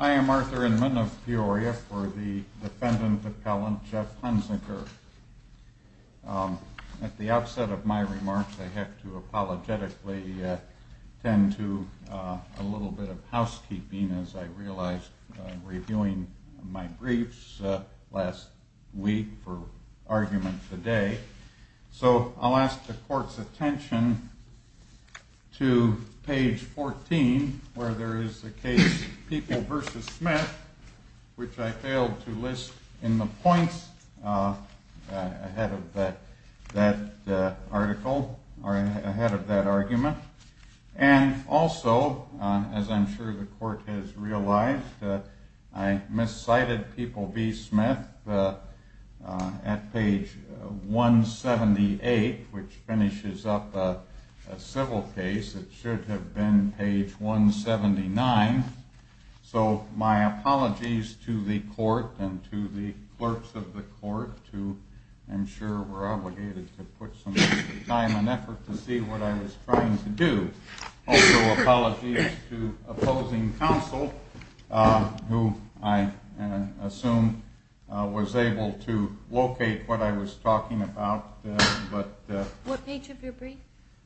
I am Arthur Inman of Peoria for the defendant appellant Jeff Hunziker. At the outset of my remarks I have to apologetically tend to a little bit of housekeeping as I realized reviewing my briefs last week for argument today. So I'll ask the court's attention to page 14 where there is the case People v. Smith which I failed to list in the points ahead of that argument. And also as I'm sure the court has realized I miscited People v. Smith at page 178 which finishes up a civil case. It should have been page 179. So my apologies to the court and to the clerks of the court to ensure we're obligated to put some time and effort to see what I was trying to do. Also apologies to opposing counsel who I assume was able to locate what I was talking about.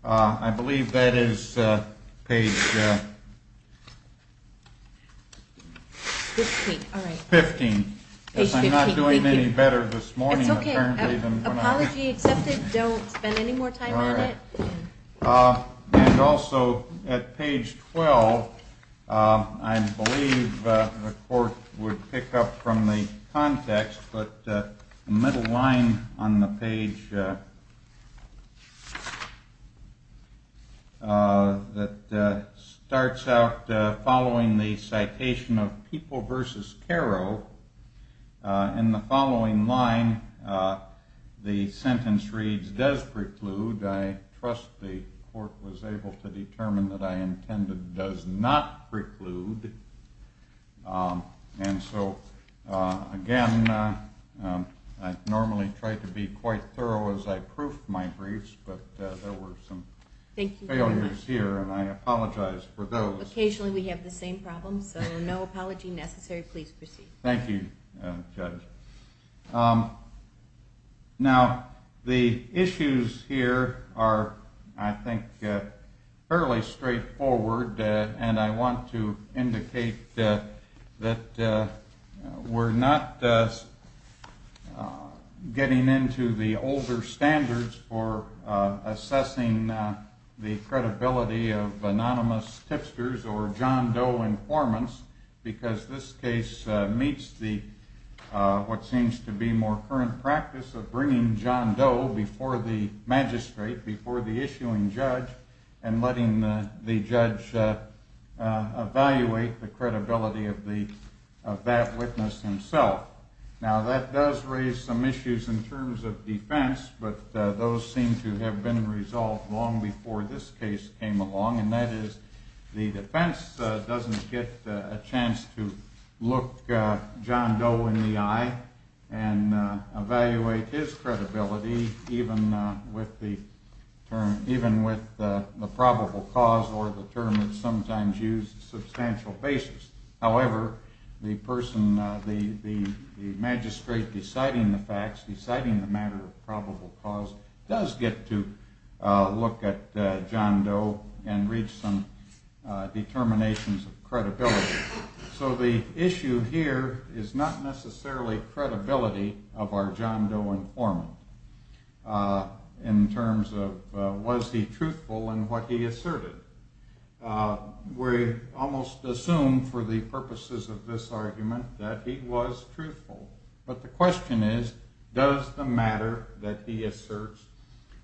I believe that is page 15. I'm not doing any better this morning. It's okay. Apology accepted. Don't spend any more time on it. And also at page 12 I believe the court would pick up from the context but the middle line on the page that starts out following the citation of People v. Carrow In the following line the sentence reads does preclude. I trust the court was able to determine that I intended does not preclude. And so again I normally try to be quite thorough as I proof my briefs but there were some failures here and I apologize for those. Occasionally we have the same problems so no apology necessary. Please proceed. Thank you Judge. Now the issues here are I think fairly straightforward and I want to indicate that we're not getting into the older standards for assessing the credibility of anonymous tipsters or John Doe informants because this case meets what seems to be more current practice of bringing John Doe before the magistrate, before the issuing judge and letting the judge evaluate the credibility of that witness himself. Now that does raise some issues in terms of defense but those seem to have been resolved long before this case came along and that is the defense doesn't get a chance to look John Doe in the eye and evaluate his credibility even with the probable cause or the term that's sometimes used on a substantial basis. However, the person, the magistrate deciding the facts, deciding the matter of probable cause does get to look at John Doe and reach some determinations of credibility. So the issue here is not necessarily credibility of our John Doe informant in terms of was he truthful in what he asserted. We almost assume for the purposes of this argument that he was truthful. But the question is does the matter that he asserts,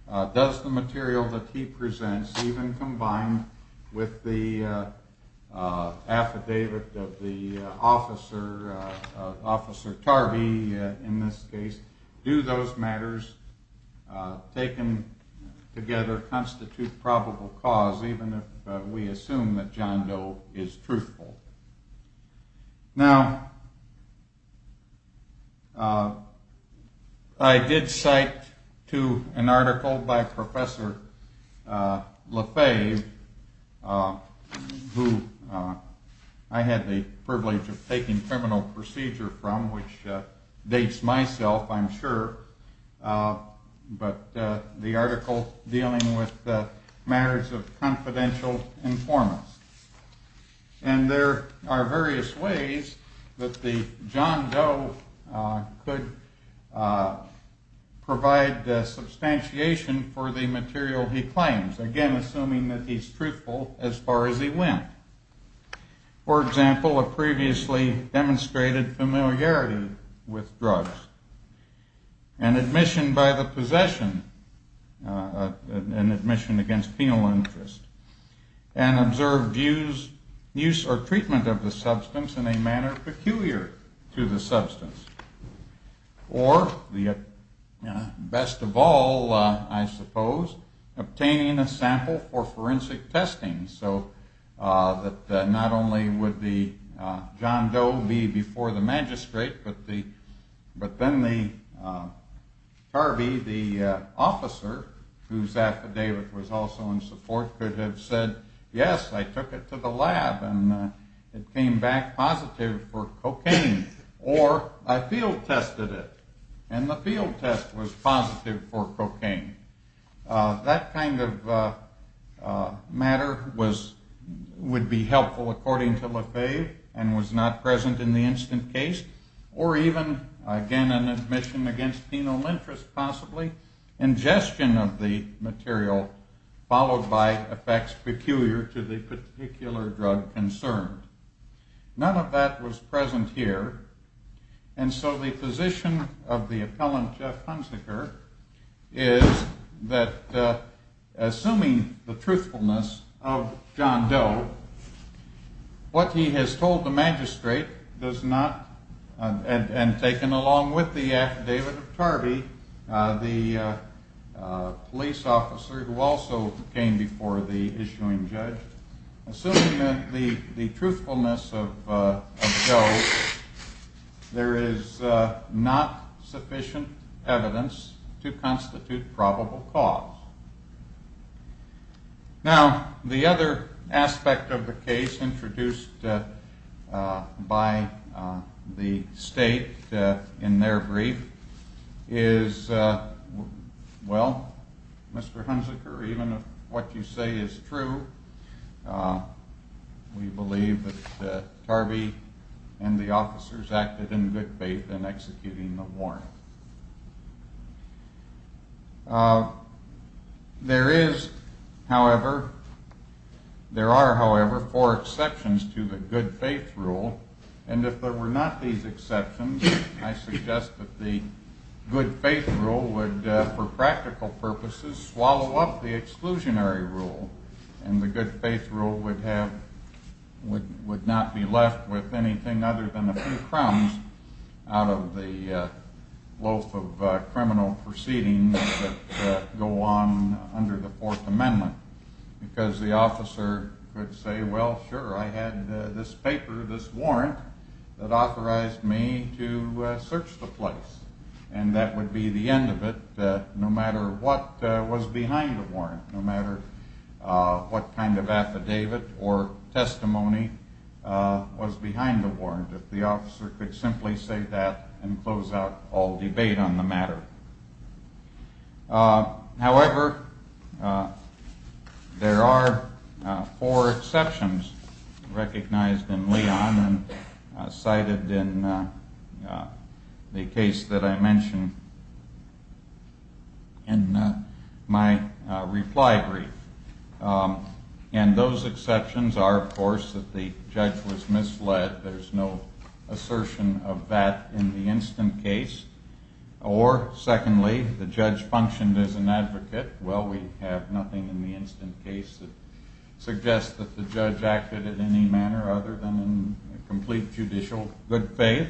does the material that he presents even combined with the affidavit of the officer, Officer Tarvey in this case, do those matters taken together constitute probable cause even if we assume that John Doe is truthful. Now, I did cite to an article by Professor Lefebvre who I had the privilege of taking criminal procedure from which dates myself I'm sure, but the article dealing with the matters of confidential informants. And there are various ways that the John Doe could provide substantiation for the material he claims, again assuming that he is truthful as far as he went. For example, a previously demonstrated familiarity with drugs, an admission by the possession, an admission against penal interest, and observed use or treatment of the substance in a manner peculiar to the substance. Or the best of all, I suppose, obtaining a sample for forensic testing so that not only would the John Doe be before the magistrate, but then the Tarvey, the officer whose affidavit was also in support could have said, yes, I took it to the lab and it came back positive for cocaine, or I field tested it and the field test was positive for cocaine. That kind of matter would be helpful according to Lefebvre and was not present in the instant case. Or even, again, an admission against penal interest possibly, ingestion of the material followed by effects peculiar to the particular drug concerned. None of that was present here. And so the position of the appellant, Jeff Hunsaker, is that assuming the truthfulness of John Doe, what he has told the magistrate and taken along with the affidavit of Tarvey, the police officer who also came before the issuing judge, assuming the truthfulness of Doe, there is not sufficient evidence to constitute probable cause. Now, the other aspect of the case introduced by the state in their brief is, well, Mr. Hunsaker, even if what you say is true, we believe that Tarvey and the officers acted in good faith in executing the warrant. There is, however, there are, however, four exceptions to the good faith rule, and if there were not these exceptions, I suggest that the good faith rule would, for practical purposes, swallow up the exclusionary rule. And the good faith rule would have, would not be left with anything other than a few crumbs out of the loaf of criminal proceedings that go on under the Fourth Amendment, because the officer could say, well, sure, I had this paper, this warrant that authorized me to search the place, and that would be the end of it, no matter what was behind the warrant, no matter what kind of affidavit or testimony was behind the warrant. If the officer could simply say that and close out all debate on the matter. assertion of that in the instant case. Or, secondly, the judge functioned as an advocate. Well, we have nothing in the instant case that suggests that the judge acted in any manner other than in complete judicial good faith.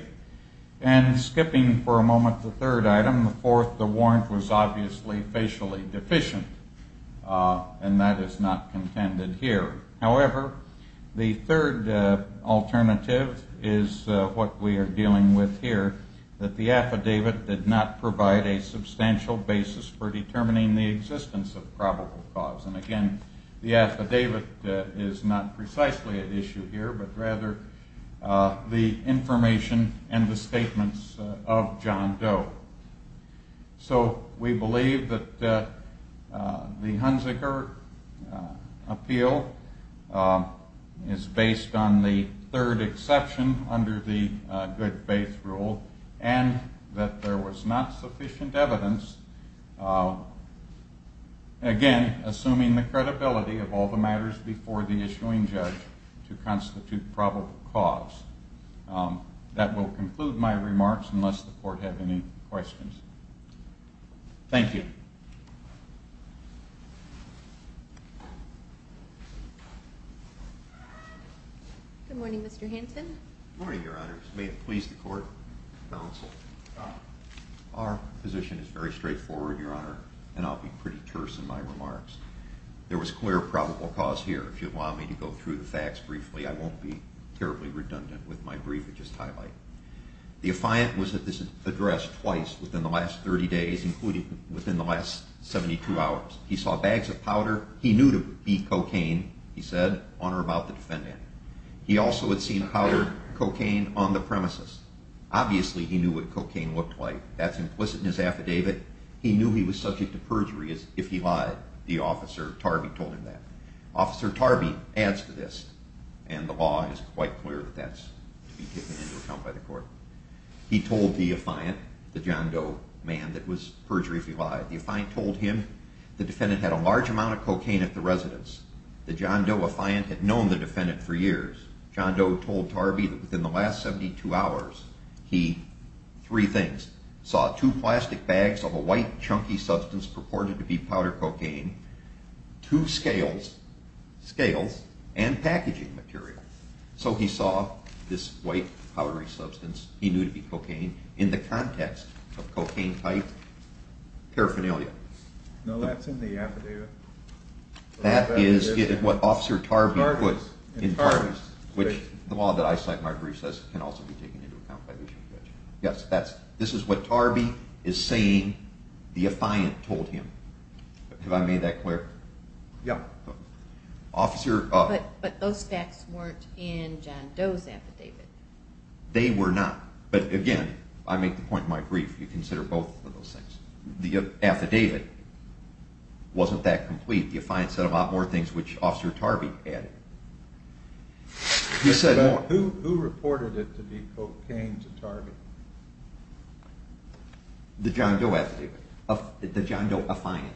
And skipping for a moment the third item, the fourth, the warrant was obviously facially deficient, and that is not contended here. However, the third alternative is what we are dealing with here, that the affidavit did not provide a substantial basis for determining the existence of probable cause. And again, the affidavit is not precisely at issue here, but rather the information and the statements of John Doe. So, we believe that the Hunziker appeal is based on the third exception under the good faith rule, and that there was not sufficient evidence, again, assuming the credibility of all the matters before the issuing judge to constitute probable cause. That will conclude my remarks, unless the court has any questions. Thank you. Good morning, Mr. Hanson. Good morning, Your Honors. May it please the court and counsel, our position is very straightforward, Your Honor, and I'll be pretty terse in my remarks. There was clear probable cause here. If you'll allow me to go through the facts briefly, I won't be terribly redundant with my brief and just highlight. The affiant was at this address twice within the last 30 days, including within the last 72 hours. He saw bags of powder. He knew to be cocaine, he said, on or about the defendant. He also had seen powdered cocaine on the premises. Obviously, he knew what cocaine looked like. That's implicit in his affidavit. He knew he was subject to perjury if he lied. The officer, Tarby, told him that. Officer Tarby adds to this, and the law is quite clear that that's to be taken into account by the court. He told the affiant, the John Doe man, that it was perjury if he lied. The affiant told him the defendant had a large amount of cocaine at the residence. The John Doe affiant had known the defendant for years. John Doe told Tarby that within the last 72 hours, he, three things, saw two plastic bags of a white, chunky substance purported to be powder cocaine, two scales, scales, and packaging material. So he saw this white, powdery substance he knew to be cocaine in the context of cocaine-type paraphernalia. No, that's in the affidavit. That is what Officer Tarby put in Tarby's, which the law that I cite in my brief says can also be taken into account by the issue of perjury. Yes, this is what Tarby is saying the affiant told him. Have I made that clear? Yeah. But those facts weren't in John Doe's affidavit. They were not. But again, I make the point in my brief, you consider both of those things. The affidavit wasn't that complete. The affiant said a lot more things which Officer Tarby added. Who reported it to be cocaine to Tarby? The John Doe affiant.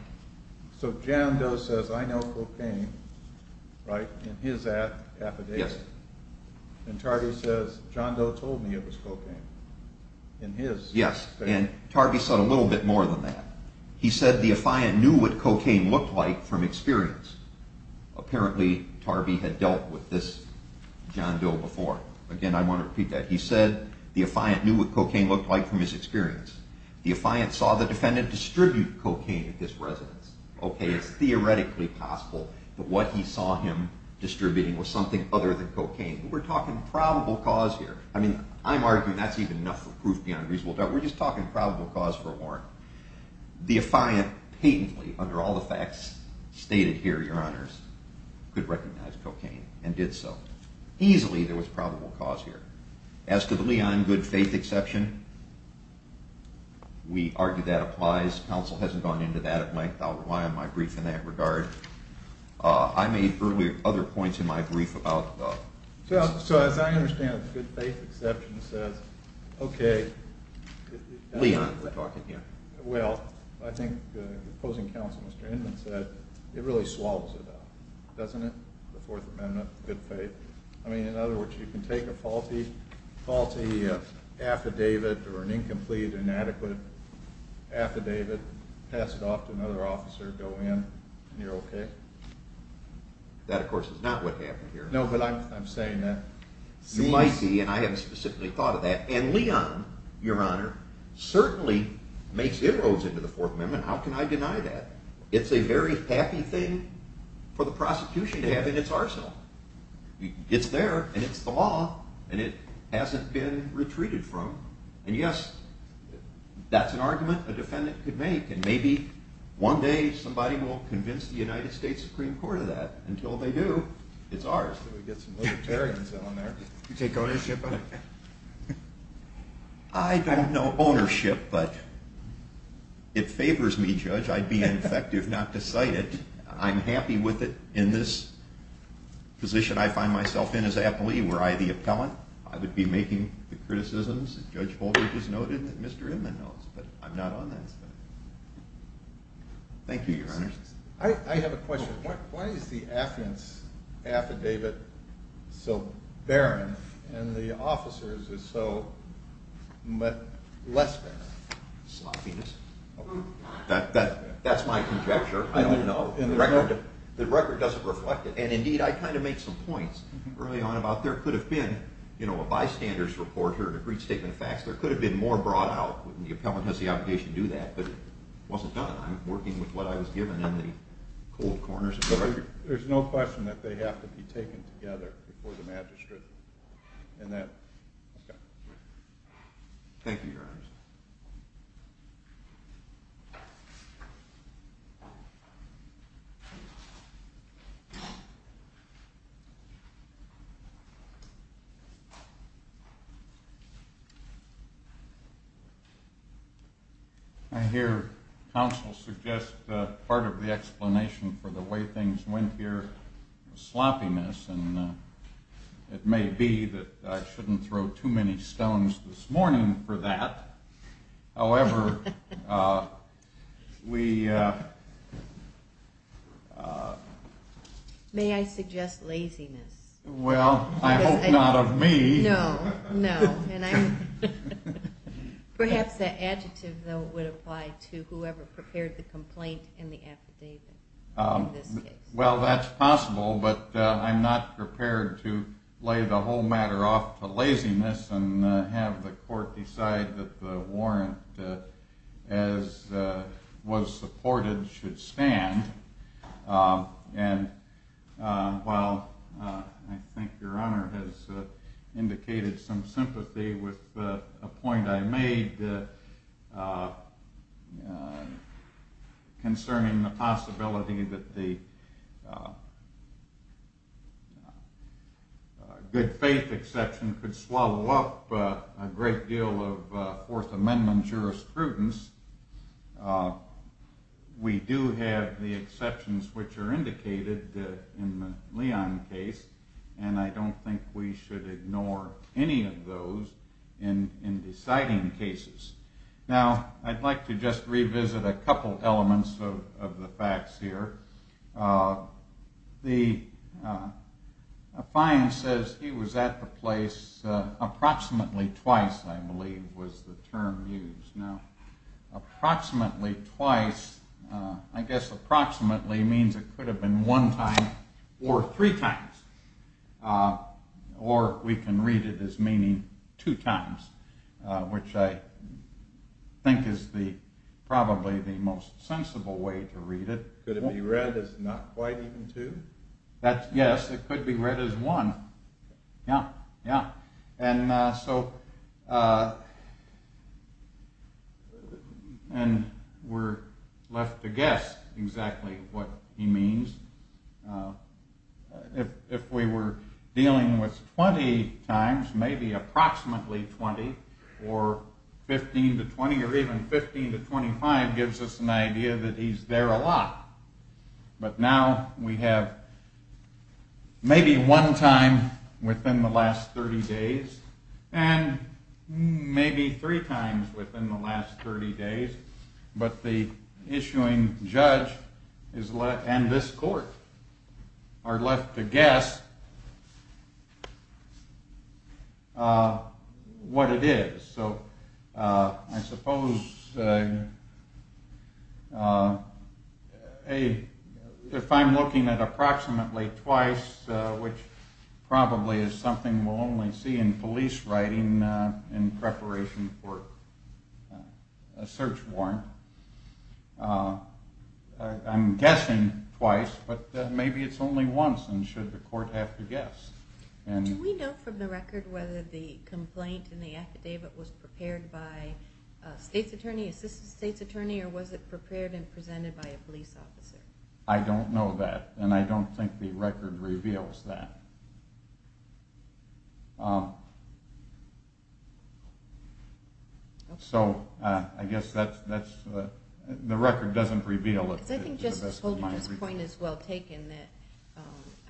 So John Doe says, I know cocaine, right, in his affidavit. Yes. And Tarby says, John Doe told me it was cocaine in his affidavit. Yes, and Tarby said a little bit more than that. He said the affiant knew what cocaine looked like from experience. Apparently, Tarby had dealt with this John Doe before. Again, I want to repeat that. He said the affiant knew what cocaine looked like from his experience. The affiant saw the defendant distribute cocaine at this residence. Okay, it's theoretically possible that what he saw him distributing was something other than cocaine. We're talking probable cause here. I mean, I'm arguing that's even enough for proof beyond reasonable doubt. We're just talking probable cause for a warrant. The affiant patently, under all the facts stated here, Your Honors, could recognize cocaine and did so. Easily there was probable cause here. As to the Leon good faith exception, we argue that applies. Counsel hasn't gone into that at length. I'll rely on my brief in that regard. I made earlier other points in my brief about... So as I understand it, the good faith exception says, okay... Leon, we're talking here. Well, I think the opposing counsel, Mr. Inman, said it really swallows it up, doesn't it? The Fourth Amendment, good faith. I mean, in other words, you can take a faulty affidavit or an incomplete, inadequate affidavit, pass it off to another officer, go in, and you're okay. That, of course, is not what happened here. No, but I'm saying that... You might be, and I haven't specifically thought of that. And Leon, Your Honor, certainly makes inroads into the Fourth Amendment. How can I deny that? It's a very happy thing for the prosecution to have in its arsenal. It's there, and it's the law, and it hasn't been retreated from. And yes, that's an argument a defendant could make, and maybe one day somebody will convince the United States Supreme Court of that. Until they do, it's ours. We've got some libertarians on there. You take ownership of it? I don't know ownership, but... It would be ineffective not to cite it. I'm happy with it in this position I find myself in as appellee, were I the appellant. I would be making the criticisms, as Judge Holder just noted, that Mr. Inman knows, but I'm not on that side. Thank you, Your Honor. I have a question. Why is the affidavit so barren, and the officer's is so less barren? Sloppiness. That's my conjecture. I don't know. The record doesn't reflect it. And indeed, I kind of made some points early on about there could have been a bystander's report or a decreed statement of facts. There could have been more brought out. The appellant has the obligation to do that, but it wasn't done. I'm working with what I was given in the cold corners of the record. There's no question that they have to be taken together before the magistrate. Thank you, Your Honor. Thank you. I hear counsel suggest that part of the explanation for the way things went here was sloppiness, and it may be that I shouldn't throw too many stones this morning for that. However, we... May I suggest laziness? Well, I hope not of me. No, no. Perhaps that adjective, though, would apply to whoever prepared the complaint and the affidavit in this case. Well, that's possible, but I'm not prepared to lay the whole matter off to laziness and have the court decide that the warrant, as was supported, should stand. And while I think Your Honor has indicated some sympathy with a point I made concerning the possibility that the good faith exception could swallow up a great deal of Fourth Amendment jurisprudence, we do have the exceptions which are indicated in the Leon case, and I don't think we should ignore any of those in deciding cases. Now, I'd like to just revisit a couple elements of the facts here. The... A fine says he was at the place approximately twice, I believe, was the term used. Approximately twice, I guess approximately means it could have been one time or three times. Or we can read it as meaning two times, which I think is probably the most sensible way to read it. Could it be read as not quite even two? Yes, it could be read as one. Yeah, yeah. And so... And we're left to guess exactly what he means. If we were dealing with 20 times, maybe approximately 20, or 15 to 20, or even 15 to 25 gives us an idea that he's there a lot. But now we have maybe one time within the last 30 days, and maybe three times within the last 30 days, but the issuing judge and this court are left to guess what it is. So I suppose if I'm looking at approximately twice, which probably is something we'll only see in police writing in preparation for a search warrant, I'm guessing twice, but maybe it's only once and should the court have to guess. Do we know from the record whether the complaint in the affidavit was prepared by a state's attorney, assistant state's attorney, or was it prepared and presented by a police officer? I don't know that, and I don't think the record reveals that. So I guess the record doesn't reveal it to the best of my ability. I think just holding this point is well taken.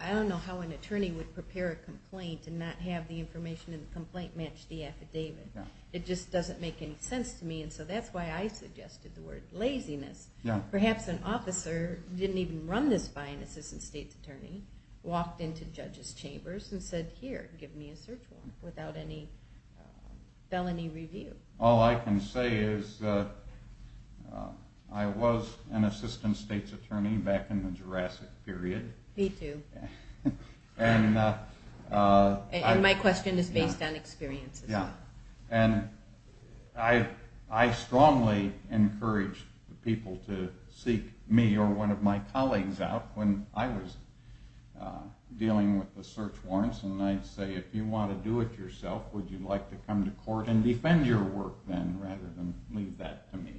I don't know how an attorney would prepare a complaint and not have the information in the complaint match the affidavit. It just doesn't make any sense to me, and so that's why I suggested the word laziness. Perhaps an officer didn't even run this by an assistant state's attorney, walked into judges' chambers and said, here, give me a search warrant without any felony review. All I can say is I was an assistant state's attorney back in the Jurassic period. Me too. And my question is based on experience. Yeah, and I strongly encourage people to seek me or one of my colleagues out. When I was dealing with the search warrants, I'd say, if you want to do it yourself, would you like to come to court and defend your work then rather than leave that to me?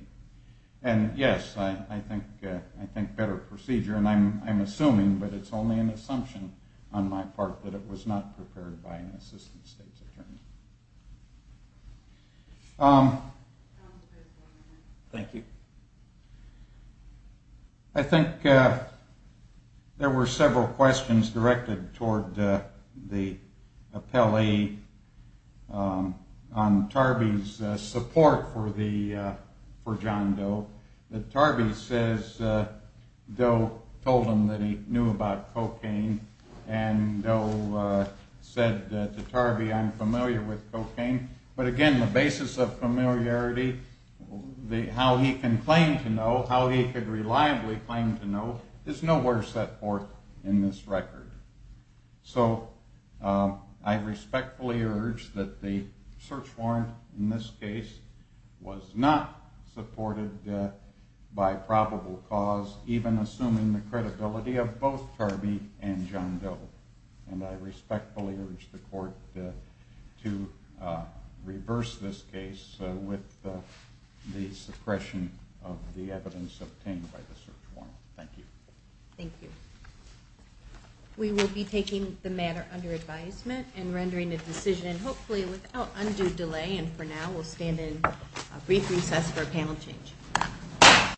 And yes, I think better procedure, and I'm assuming, but it's only an assumption on my part that it was not prepared by an assistant state's attorney. Thank you. I think there were several questions directed toward the appellee on Tarby's support for John Doe. Tarby says Doe told him that he knew about cocaine, and Doe said to Tarby, I'm familiar with cocaine. But again, the basis of familiarity, how he can claim to know, how he could reliably claim to know, is nowhere set forth in this record. So I respectfully urge that the search warrant in this case was not supported by probable cause, even assuming the credibility of both Tarby and John Doe. And I respectfully urge the court to reverse this case with the suppression of the evidence obtained by the search warrant. Thank you. Thank you. We will be taking the matter under advisement and rendering a decision, hopefully without undue delay, and for now we'll stand in a brief recess for a panel change.